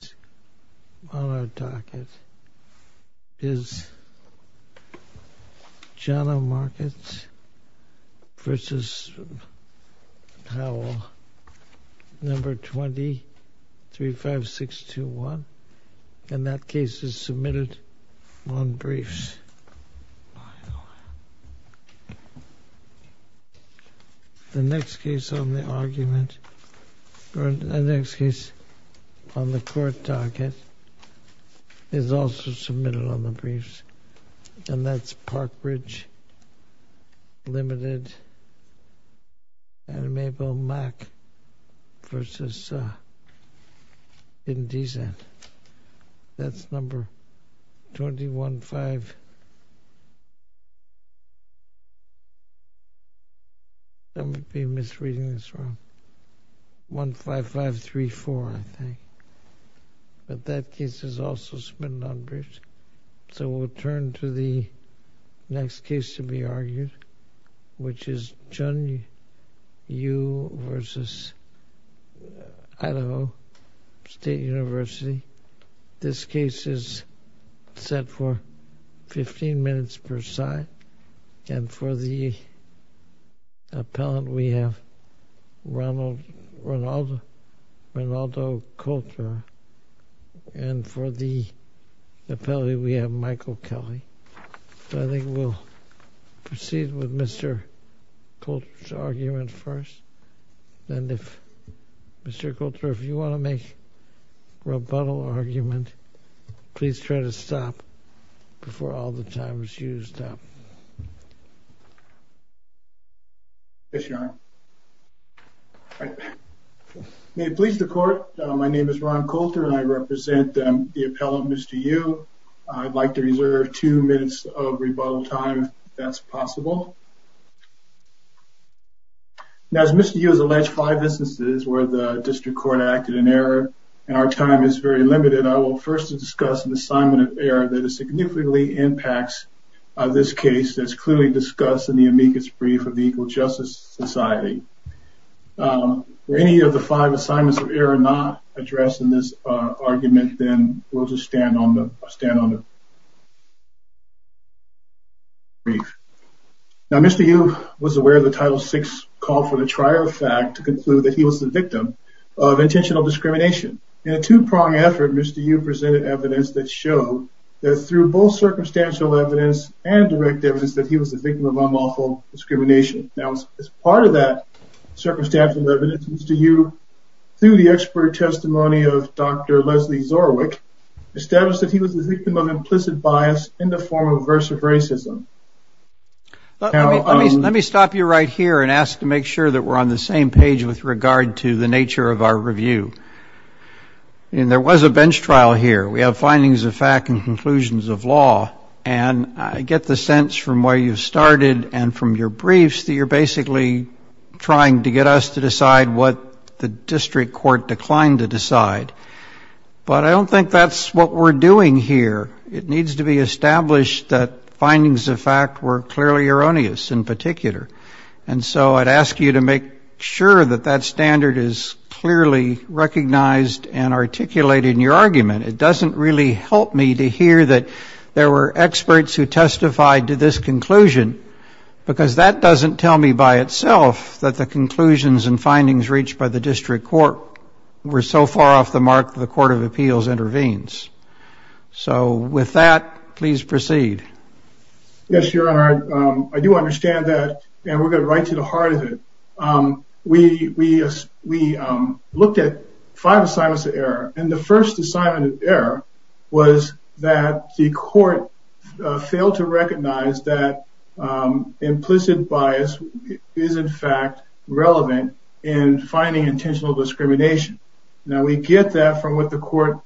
The case on our docket is Chano Markets v. Powell, No. 20-35621, and that case is submitted on briefs. The next case on the court docket is also submitted on the briefs, and that's Parkbridge Ltd. and Mabel Mack v. Indecent. That's No. 21-5-15534, I think, but that case is also to be argued, which is Chun Yu v. Idaho State University. This case is set for 15 minutes per side, and for the appellant, we have Ronaldo Coulter, and for the appellant, we have Michael Kelly. I think we'll proceed with Mr. Coulter's argument first, and if Mr. Coulter, if you want to make a rebuttal argument, please try to stop before all the time is used up. Yes, Your Honor. May it please the court, my name is Ron Coulter, and I represent the District Court. I would like to reserve two minutes of rebuttal time, if that's possible. Now, as Mr. Yu has alleged, five instances where the District Court acted in error, and our time is very limited, I will first discuss an assignment of error that is significantly impacts this case that's clearly discussed in the amicus brief of the Equal Justice Society. For any of the five assignments of error not addressed in this argument, then we'll just stand on the stand on the brief. Now, Mr. Yu was aware of the Title VI call for the trier of fact to conclude that he was the victim of intentional discrimination. In a two-pronged effort, Mr. Yu presented evidence that showed that through both circumstantial evidence and direct evidence that he was the victim of unlawful discrimination. Now, as part of that circumstantial evidence, Mr. Yu, through the expert testimony of Dr. Leslie Zorwick, established that he was the victim of implicit bias in the form of aversive racism. Let me stop you right here and ask to make sure that we're on the same page with regard to the nature of our review. There was a bench trial here. We have findings of fact and conclusions of law, and I get the sense from where you've started and from your briefs that you're basically trying to get us to decide what the district court declined to decide, but I don't think that's what we're doing here. It needs to be established that findings of fact were clearly erroneous in particular, and so I'd ask you to make sure that that standard is clearly recognized and articulated in your argument. It doesn't really help me to hear that there were experts who testified to this conclusion because that doesn't tell me by itself that the conclusions and findings reached by the district court were so far off the mark the Court of Appeals intervenes. So with that, please proceed. Yes, Your Honor, I do understand that and we're going to write to the heart of it. We looked at five assignments of error, and the first assignment of error was that the court failed to recognize that implicit bias is, in fact, relevant in finding intentional discrimination. Now, we get that from what the court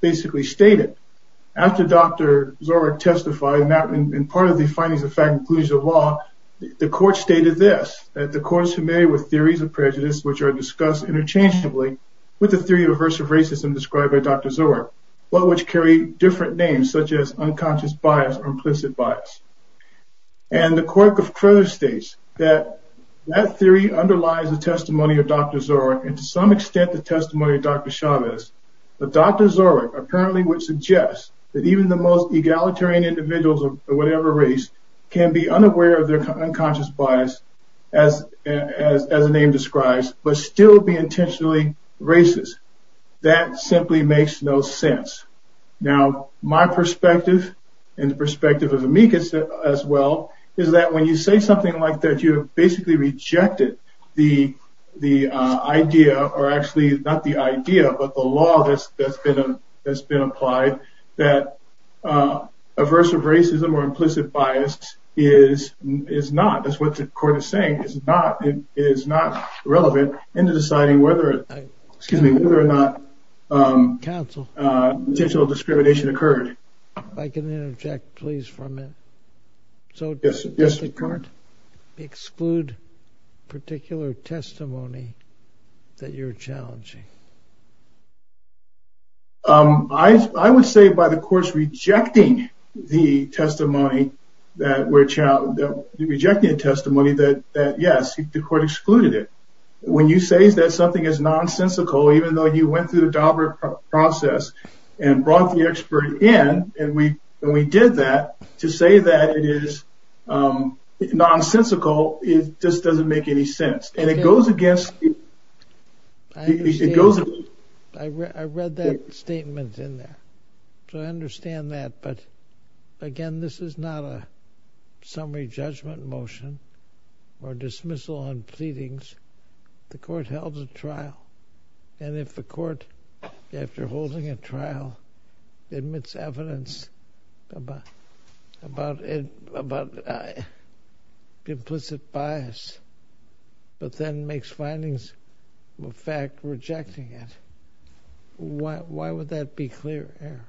basically stated. After Dr. Zorich testified in part of the findings of fact and conclusions of law, the court stated this, that the court is familiar with theories of prejudice which are racism described by Dr. Zorich, but which carry different names such as unconscious bias or implicit bias. And the court of prejudice states that that theory underlies the testimony of Dr. Zorich and to some extent the testimony of Dr. Chavez, but Dr. Zorich apparently would suggest that even the most egalitarian individuals of whatever race can be unaware of their unconscious bias as a name describes, but still be intentionally racist. That simply makes no sense. Now, my perspective and the perspective of amicus as well, is that when you say something like that, you have basically rejected the idea or actually, not the idea, but the law that's been applied, that aversive racism or implicit bias is not, that's what the court is saying, is not relevant in deciding whether or not intentional discrimination occurred. If I can interject please from it. So, does the court exclude particular testimony that you're challenging? I would say by the courts rejecting the testimony that we're challenging, rejecting the testimony that yes, the court excluded it. When you say that something is nonsensical, even though you went through the Daubert process and brought the expert in and we did that, to say that it is against... I read that statement in there, so I understand that, but again, this is not a summary judgment motion or dismissal on pleadings. The court held a trial and if the court, after holding a trial, admits evidence about implicit bias, but then makes findings of fact rejecting it, why would that be clear?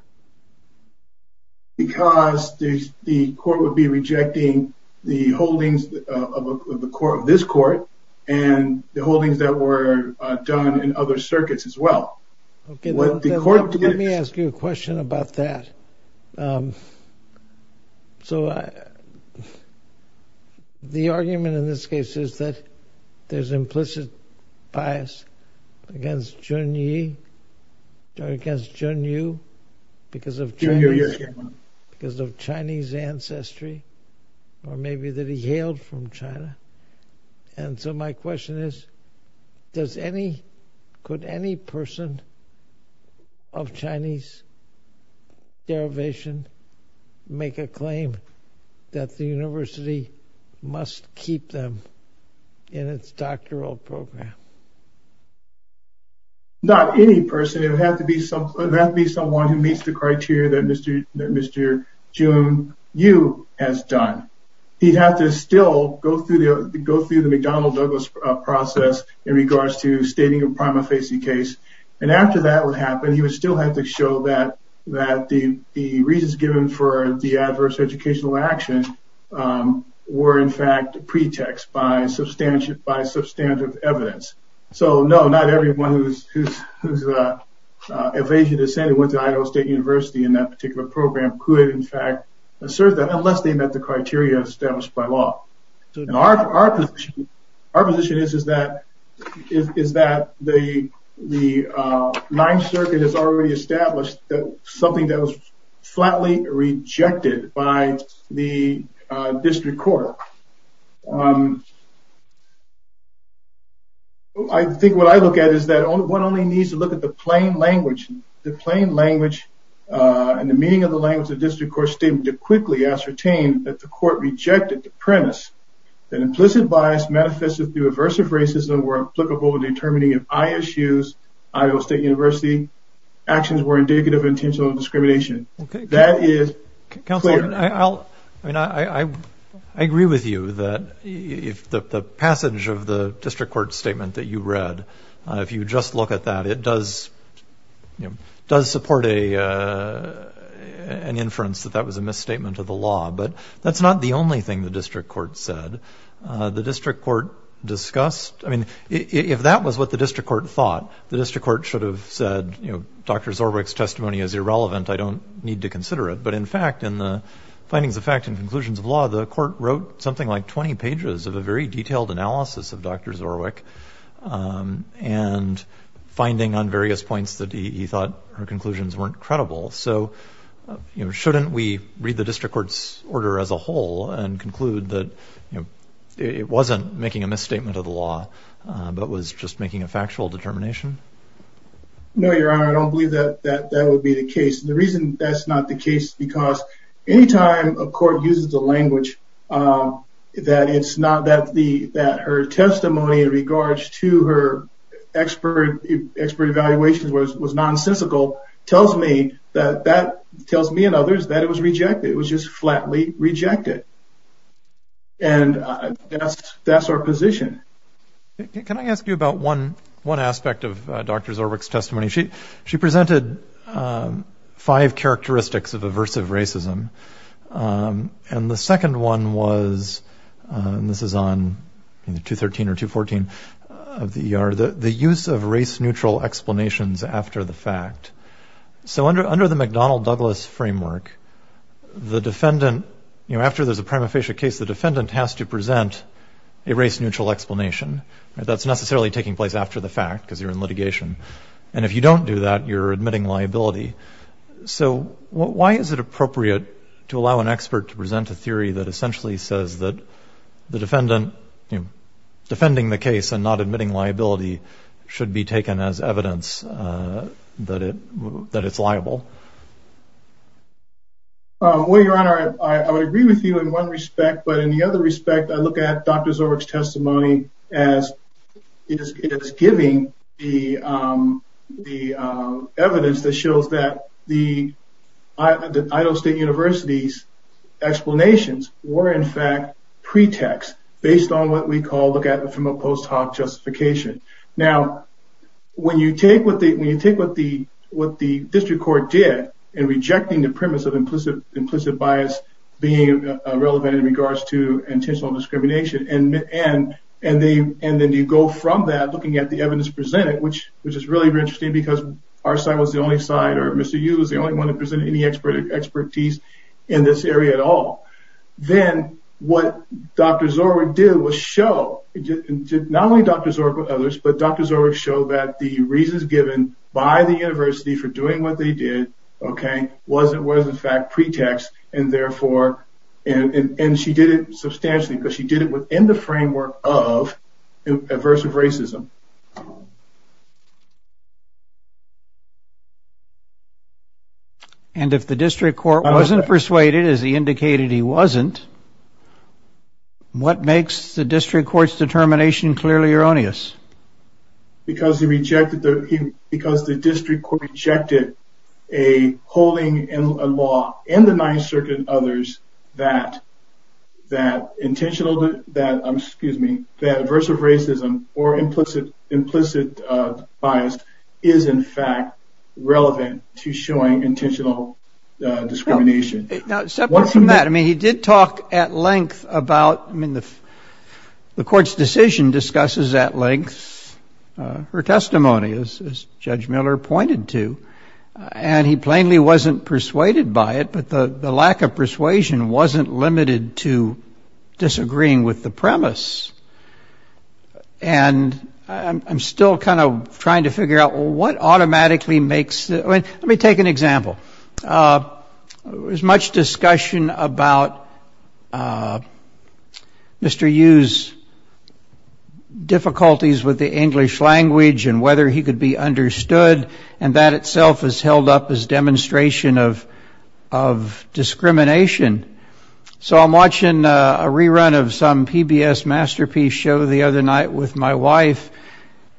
Because the court would be rejecting the holdings of the court, of this court, and the holdings that were done in other circuits as well. Okay, let me ask you a question. Does any, could any person of Chinese derivation make a claim that the program? Not any person. It would have to be someone who meets the criteria that Mr. June Yu has done. He'd have to still go through the McDonnell-Douglas process in regards to stating a prima facie case, and after that would happen, he would still have to show that the reasons given for the adverse educational action were, in fact, pretext by substantive evidence. So, no, not everyone who's evasion is saying they went to Idaho State University in that particular program could, in fact, assert that unless they met the criteria established by law. Our position is that the Ninth Circuit has already established that something that was flatly rejected by the District Court. I think what I look at is that one only needs to look at the plain language, the plain language and the meaning of the language of the District Court statement to quickly ascertain that the court rejected the premise that implicit bias manifested through aversive racism were applicable in determining if ISU's, actions were indicative of intentional discrimination. That is clear. I agree with you that if the passage of the District Court statement that you read, if you just look at that, it does support an inference that that was a misstatement of the law, but that's not the only thing the District Court said. The District Court discussed, I mean, if that was what the District Court thought, the District Court should have said, you know, Dr. Zorwick's testimony is irrelevant. I don't need to consider it. But in fact, in the findings of fact and conclusions of law, the court wrote something like 20 pages of a very detailed analysis of Dr. Zorwick, and finding on various points that he thought her conclusions weren't credible. So, you know, shouldn't we read the District Court's order as a whole and conclude that, you know, it wasn't making a misstatement of the law, but was just making a factual determination? No, Your Honor, I don't believe that that would be the case. The reason that's not the case, because any time a court uses the language that it's not, that the, that her testimony in regards to her expert evaluations was nonsensical, tells me that that tells me and others that it was rejected. It was just flatly rejected. And that's our position. Can I ask you about one aspect of Dr. Zorwick's testimony? She presented five characteristics of aversive racism. And the second one was, and this is on in the 213 or 214 of the ER, the use of race neutral explanations after the fact. So under the McDonnell-Douglas framework, the defendant, you know, after there's a prima facie case, the defendant has to present a race neutral explanation. That's necessarily taking place after the fact because you're in litigation. And if you don't do that, you're admitting liability. So why is it appropriate to allow an expert to present a theory that essentially says that the defendant, you know, defending the case and not admitting liability should be taken as evidence that it, that it's Well, Your Honor, I would agree with you in one respect. But in the other respect, I look at Dr. Zorwick's testimony as it is giving the evidence that shows that the Idaho State University's explanations were, in fact, pretext based on what we call, look at it from a post hoc justification. Now, when you take what the, when you take what the, what the district court did and rejecting the premise of implicit, implicit bias being relevant in regards to intentional discrimination and, and, and the, and then you go from that, looking at the evidence presented, which, which is really interesting because our side was the only side or Mr. Yu was the only one that presented any expertise in this area at all. Then what Dr. Zorwick did was show, not only Dr. Zorwick but others, but Dr. Zorwick showed that the reasons given by the university for doing what they did, okay, was it was in fact pretext and therefore, and she did it substantially because she did it within the framework of aversive racism. And if the district court wasn't persuaded, as he indicated he wasn't, what makes the district court's determination clearly erroneous? Because he rejected the, he, because the district court rejected a holding in a law in the ninth circuit and others that, that intentional, that, excuse me, that aversive racism or implicit, implicit bias is in fact relevant to showing intentional discrimination. Now separate from that, I mean, he did talk at length about, I mean, the, the court's decision discusses at length. Her testimony is, as Judge Miller pointed to, and he plainly wasn't persuaded by it, but the, the lack of persuasion wasn't limited to disagreeing with the premise. And I'm still kind of trying to figure out what automatically makes it, I mean, let me take an example. There's much discussion about Mr. Yu's difficulties with the English language and whether he could be understood, and that itself is held up as demonstration of, of discrimination. So I'm watching a rerun of some PBS masterpiece show the other night with my wife,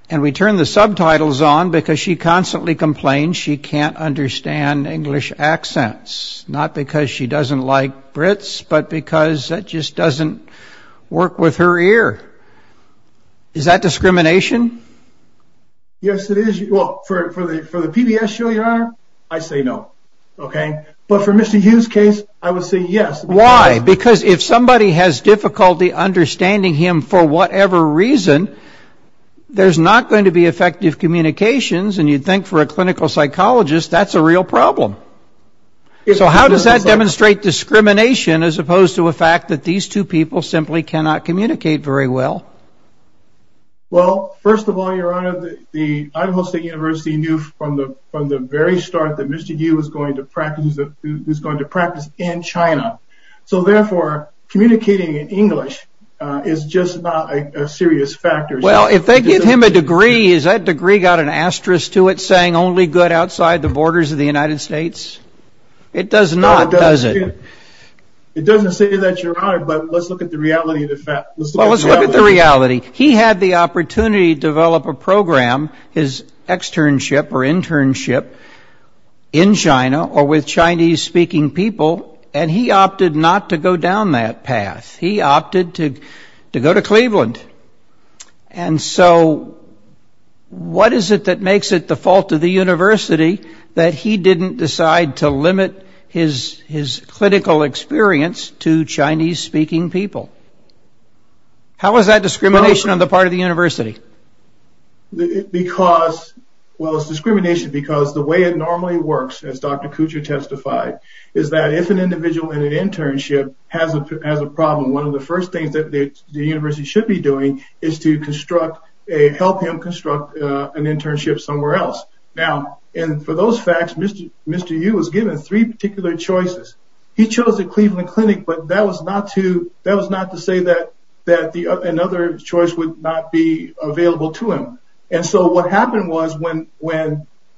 and we turned the subtitles on because she constantly complained she can't understand English accents. Not because she doesn't like Brits, but because that just doesn't work with her ear. Is that discrimination? Yes, it is. Well, for the, for the PBS show, Your Honor, I say no. Okay. But for Mr. Yu's case, I would say yes. Why? Because if somebody has difficulty understanding him for whatever reason, there's not going to be effective communications, and you'd think for a clinical psychologist, that's a real problem. So how does that demonstrate discrimination as opposed to a fact that these two people simply cannot communicate very well? Well, first of all, Your Honor, Idaho State University knew from the very start that Mr. Yu was going to practice in China. So therefore, communicating in English is just not a serious factor. Well, if they give him a degree, has that degree got an asterisk to it saying only good outside the borders of the United States? It does not, does it? It doesn't say that, Your Honor, but let's look at the reality of the fact. Well, let's look at the reality. He had the opportunity to develop a program, his externship or internship, in China or with Chinese-speaking people, and he opted not to go down that path. He opted to go to Cleveland. And so what is it that makes it the fault of the university that he didn't decide to limit his clinical experience to Chinese-speaking people? How is that discrimination on the part of the university? Well, it's discrimination because the way it normally works, as Dr. Kuchar testified, is that if an individual in an internship has a problem, one of the first things that the university should be doing is to help him construct an internship somewhere else. Now, and for those facts, Mr. Yu was given three particular choices. He chose the Cleveland Clinic, but that was not to say that another choice would not be available to him. And so what happened was when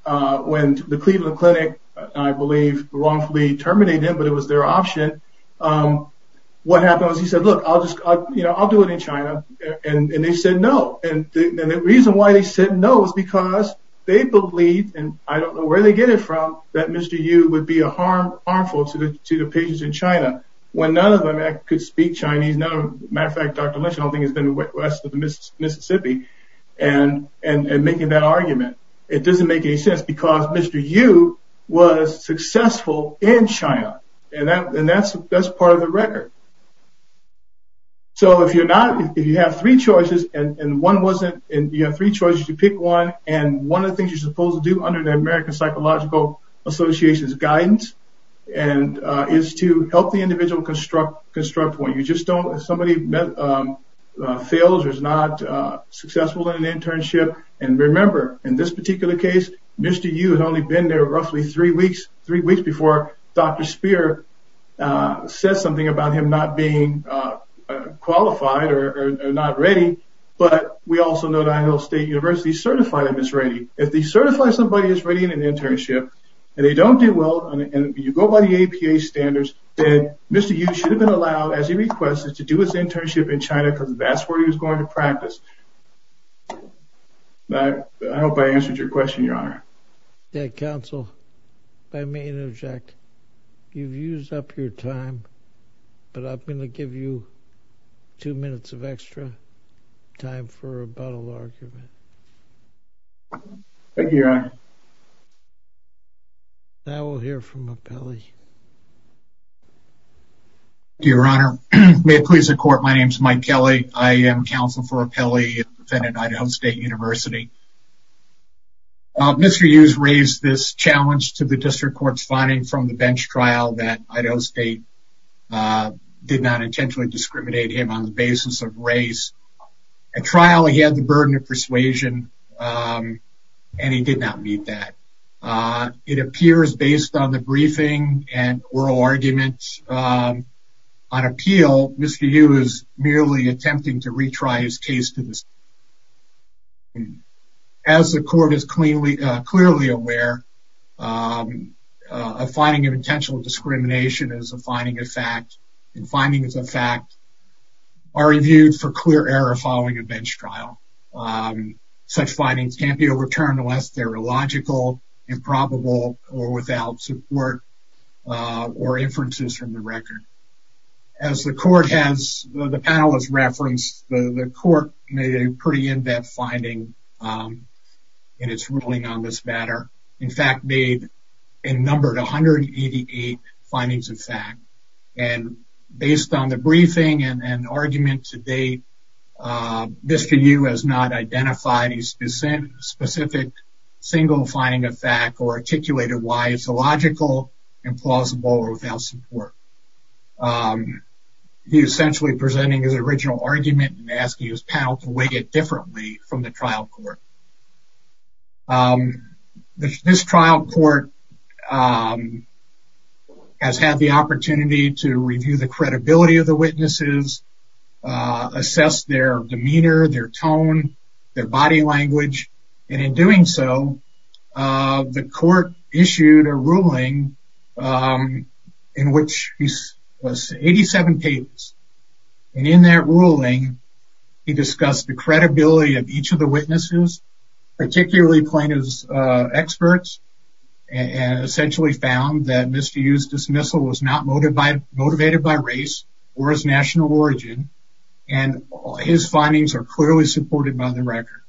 the Cleveland Clinic, I believe, wrongfully terminated him, but it was their option, what happened was he said, look, I'll do it in China, and they said no. And the reason why they said no was because they believed, and I don't know where they get it from, that Mr. Yu would be harmful to the patients in China, when none of them could speak Chinese. As a matter of fact, Dr. Lynch, I don't think he's been west of Mississippi, and making that argument. It doesn't make any sense because Mr. Yu was successful in China. And that's part of the record. So if you're not, if you have three choices, and one wasn't, and you have three choices, you pick one, and one of the things you're supposed to do under the American Psychological Association's guidance is to help the individual construct one. You just don't, if somebody fails or is not successful in an internship, and remember, in this particular case, Mr. Yu had only been there roughly three weeks, three weeks before Dr. Spear said something about him not being qualified or not ready, but we also know that Idaho State University certified him as ready. If they certify somebody as ready in an internship, and they don't do well, and you go by the APA standards, then Mr. Yu should have been allowed, as he requested, to do his internship in China, because that's where he was going to practice. I hope I answered your question, Your Honor. Counsel, if I may interject, you've used up your time, but I'm going to give you two minutes of extra time for rebuttal argument. Thank you, Your Honor. Now we'll hear from Apelli. Thank you, Your Honor. May it please the Court, my name is Mike Kelly. I am counsel for Apelli at Idaho State University. Mr. Yu has raised this challenge to the district court's finding from the bench trial that Idaho State did not intentionally discriminate him on the basis of race. At trial, he had the burden of persuasion, and he did not meet that. It appears, based on the briefing and oral argument on appeal, Mr. Yu is merely attempting to retry his case to the state. As the court is clearly aware, a finding of intentional discrimination is a finding of fact, argued for clear error following a bench trial. Such findings can't be overturned unless they're illogical, improbable, or without support or inferences from the record. As the panel has referenced, the court made a pretty in-depth finding in its ruling on this matter. In fact, made and numbered 188 findings of fact. And based on the briefing and argument to date, Mr. Yu has not identified a specific single finding of fact or articulated why it's illogical, implausible, or without support. He is essentially presenting his original argument and asking his panel to weigh it differently from the trial court. This trial court has had the opportunity to review the credibility of the witnesses, assess their demeanor, their tone, their body language. And in doing so, the court issued a ruling in which he was 87 pages. And in that ruling, he discussed the credibility of each of the witnesses, particularly plaintiff's experts, and essentially found that Mr. Yu's dismissal was not motivated by race or his national origin. And his findings are clearly supported by the record.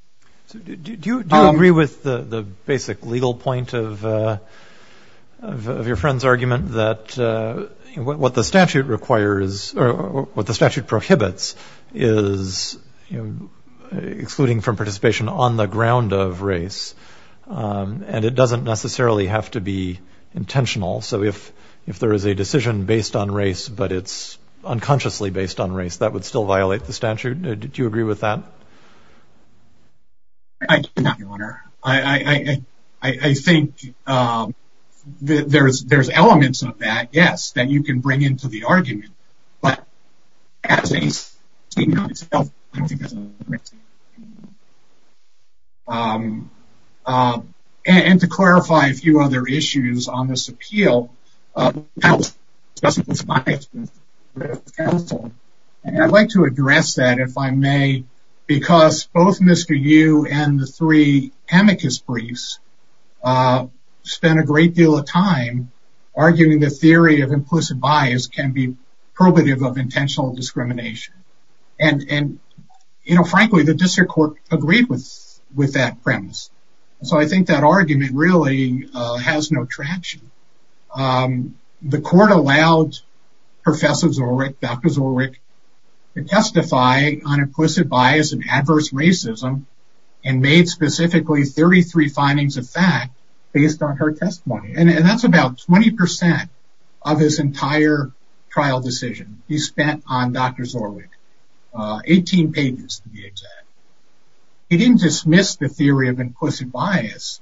Do you agree with the basic legal point of your friend's argument that what the statute requires, or what the statute prohibits is excluding from participation on the ground of race? And it doesn't necessarily have to be intentional. So if there is a decision based on race, but it's unconsciously based on race, that would still violate the statute. Do you agree with that? I do not, Your Honor. I think there's elements of that, yes, that you can bring into the argument. But as a statement of itself, I don't think that's a great statement. And to clarify a few other issues on this appeal, I'd like to address that, if I may, because both Mr. Yu and the three amicus briefs spent a great deal of time arguing the theory of implicit bias can be probative of intentional discrimination. And, you know, frankly, the district court agreed with that premise. So I think that argument really has no traction. The court allowed Professor Zorich, Dr. Zorich, to testify on implicit bias and adverse racism and made specifically 33 findings of fact based on her testimony. And that's about 20% of his entire trial decision. He spent on Dr. Zorich, 18 pages to be exact. He didn't dismiss the theory of implicit bias.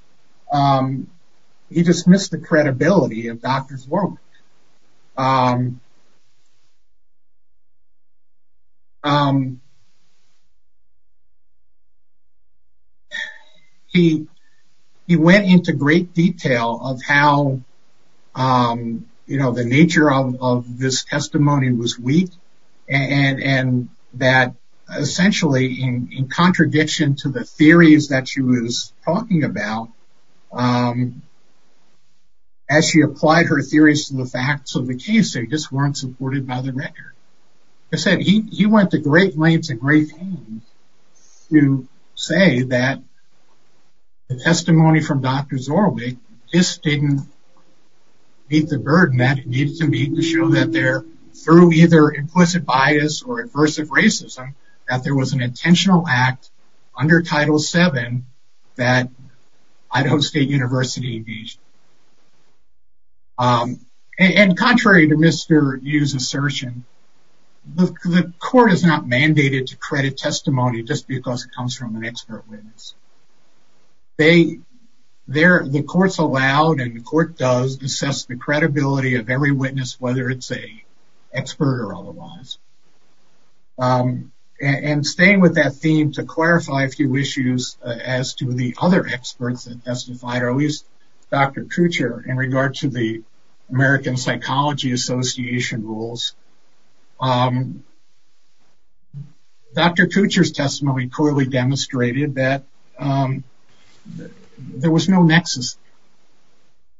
He dismissed the credibility of Dr. Zorich. He went into great detail of how, you know, the nature of this testimony was weak. And that essentially, in contradiction to the theories that she was talking about, as she applied her theories to the facts of the case, they just weren't supported by the record. As I said, he went to great lengths and great pains to say that the testimony from Dr. Zorich just didn't meet the burden that it needed to meet to show that there, through either implicit bias or adverse racism, that there was an intentional act under Title VII that Idaho State University engaged in. And contrary to Mr. Yu's assertion, the court is not mandated to credit testimony just because it comes from an expert witness. The court's allowed and the court does assess the credibility of every witness, whether it's an expert or otherwise. And staying with that theme, to clarify a few issues as to the other experts that testified, or at least Dr. Kutcher, in regard to the American Psychology Association rules, Dr. Kutcher's testimony clearly demonstrated that there was no nexus.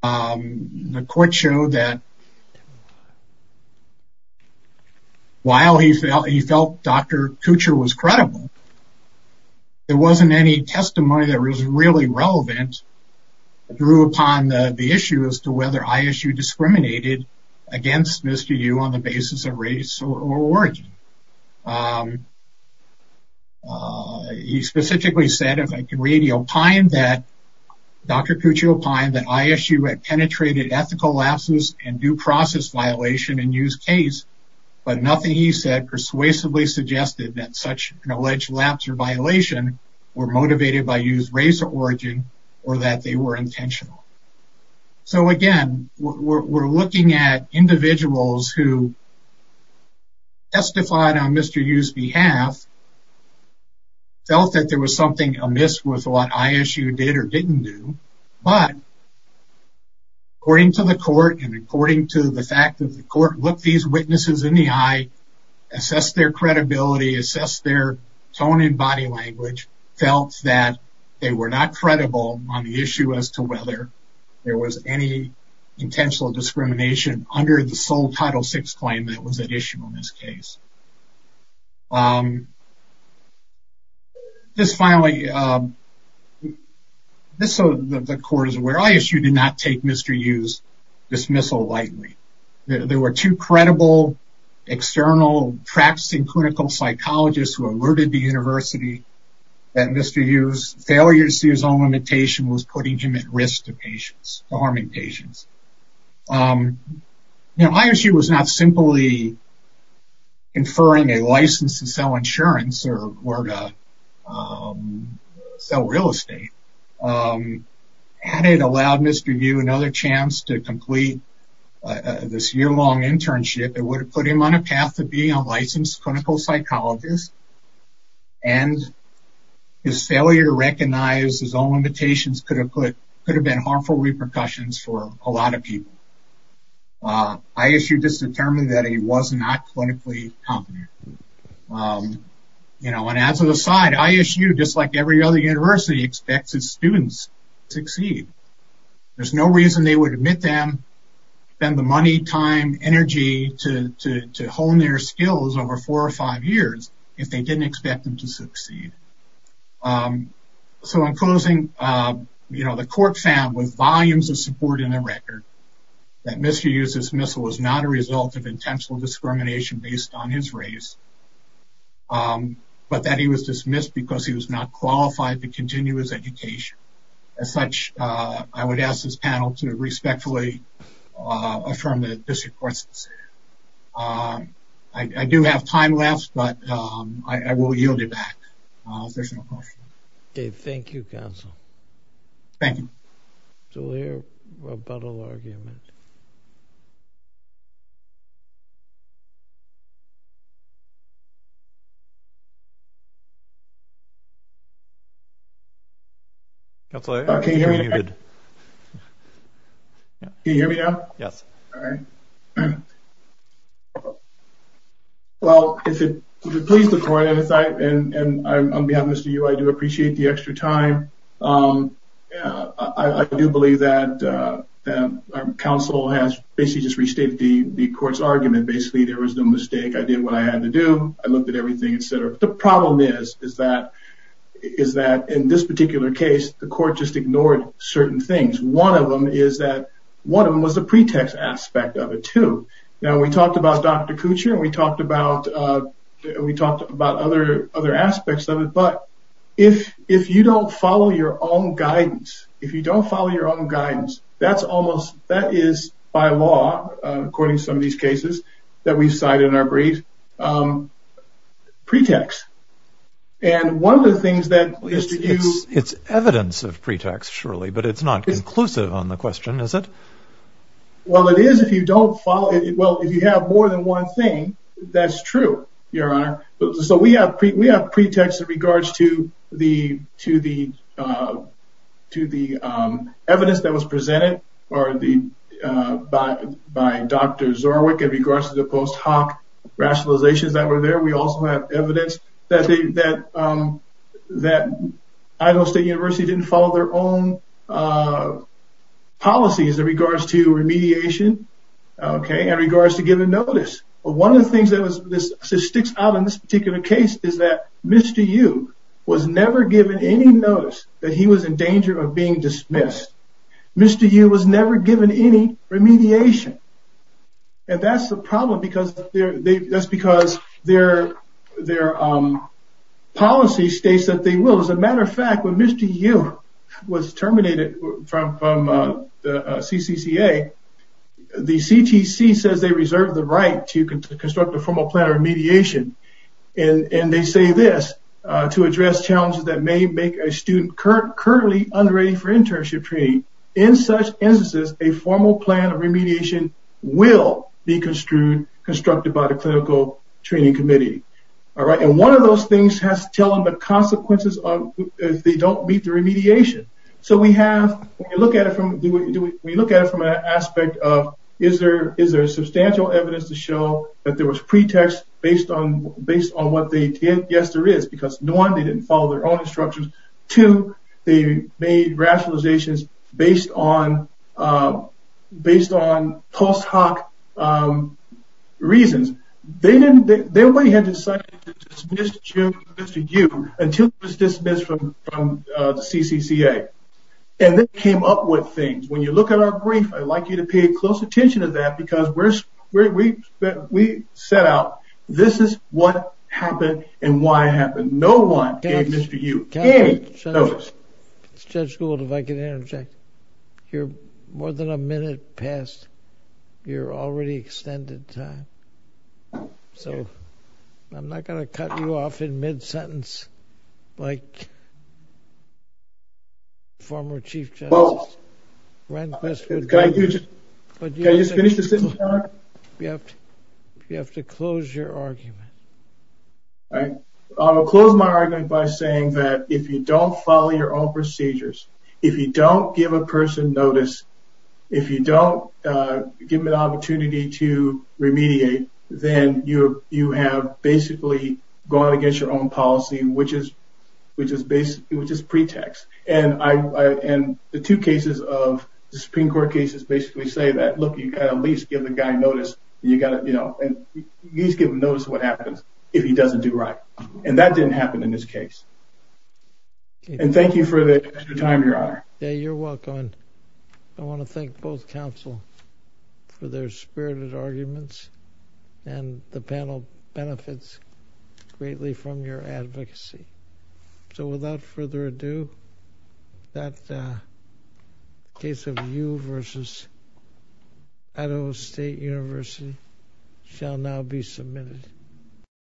The court showed that while he felt Dr. Kutcher was credible, there wasn't any testimony that was really relevant, drew upon the issue as to whether ISU discriminated against Mr. Yu on the basis of race or origin. He specifically said, if I can read, he opined that Dr. Kutcher opined that ISU had penetrated ethical lapses and due process violation in Yu's case, but nothing he said persuasively suggested that such an alleged lapse or violation were motivated by Yu's race or origin or that they were intentional. So again, we're looking at individuals who testified on Mr. Yu's behalf, felt that there was something amiss with what ISU did or didn't do, but according to the court and according to the fact that the court looked these witnesses in the eye, assessed their credibility, assessed their tone and body language, felt that they were not credible on the issue as to whether there was any intentional discrimination under the sole Title VI claim that was at issue on this case. Just finally, the court is aware that ISU did not take Mr. Yu's dismissal lightly. There were two credible external practicing clinical psychologists who alerted the university that Mr. Yu's failure to see his own limitation was putting him at risk to patients, to harming patients. ISU was not simply inferring a license to sell insurance or to sell real estate. Had it allowed Mr. Yu another chance to complete this year-long internship, it would have put him on a path to being a licensed clinical psychologist and his failure to recognize his own limitations could have been harmful repercussions for a lot of people. ISU just determined that he was not clinically competent. And as an aside, ISU, just like every other university, expects its students to succeed. There's no reason they would admit them, spend the money, time, energy to hone their skills over four or five years if they didn't expect them to succeed. So in closing, the court found with volumes of support in the record that Mr. Yu's dismissal was not a result of intentional discrimination based on his race, but that he was dismissed because he was not qualified to continue his education. As such, I would ask this panel to respectfully affirm that this report is sincere. I do have time left, but I will yield it back if there's no question. Okay, thank you, counsel. Thank you. Do we have a rebuttal argument? Counsel, I think you're muted. Can you hear me now? Yes. All right. Well, if it pleases the court, and on behalf of Mr. Yu, I do appreciate the extra time. I do believe that counsel has basically just restated the court's argument. Basically, there was no mistake. I looked at everything, et cetera. The problem is that in this particular case, the court just ignored certain things. One of them was the pretext aspect of it, too. Now, we talked about Dr. Kutcher, and we talked about other aspects of it, but if you don't follow your own guidance, if you don't follow your own guidance, that is, by law, according to some of these cases that we cite in our brief, pretext. And one of the things that Mr. Yu— It's evidence of pretext, surely, but it's not conclusive on the question, is it? Well, it is if you don't follow—well, if you have more than one thing, that's true, Your Honor. So we have pretext in regards to the evidence that was presented by Dr. Zerwick in regards to the post hoc rationalizations that were there. We also have evidence that Idaho State University didn't follow their own policies in regards to remediation, okay, in regards to giving notice. But one of the things that sticks out in this particular case is that Mr. Yu was never given any notice that he was in danger of being dismissed. Mr. Yu was never given any remediation. And that's the problem because their policy states that they will. As a matter of fact, when Mr. Yu was terminated from the CCCA, the CTC says they reserve the right to construct a formal plan of remediation. And they say this, to address challenges that may make a student currently unready for internship training. In such instances, a formal plan of remediation will be constructed by the clinical training committee. All right, and one of those things has to tell them the consequences if they don't meet the remediation. So we look at it from an aspect of, is there substantial evidence to show that there was pretext based on what they did? Yes, there is, because one, they didn't follow their own instructions. Two, they made rationalizations based on post hoc reasons. Nobody had decided to dismiss Mr. Yu until he was dismissed from the CCCA. And they came up with things. When you look at our brief, I'd like you to pay close attention to that because we set out, this is what happened and why it happened. No one gave Mr. Yu any notice. Judge Gould, if I could interject. You're more than a minute past your already extended time. So I'm not going to cut you off in mid-sentence like former Chief Justice Rehnquist would do. Can I just finish the sentence, Your Honor? You have to close your argument. I will close my argument by saying that if you don't follow your own procedures, if you don't give a person notice, if you don't give them an opportunity to remediate, then you have basically gone against your own policy, which is pretext. And the two cases of the Supreme Court cases basically say that, look, you've got to at least give the guy notice. You've got to at least give him notice of what happens if he doesn't do right. And that didn't happen in this case. And thank you for the extra time, Your Honor. Yeah, you're welcome. I want to thank both counsel for their spirited arguments. And the panel benefits greatly from your advocacy. So without further ado, that case of you versus Idaho State University shall now be submitted.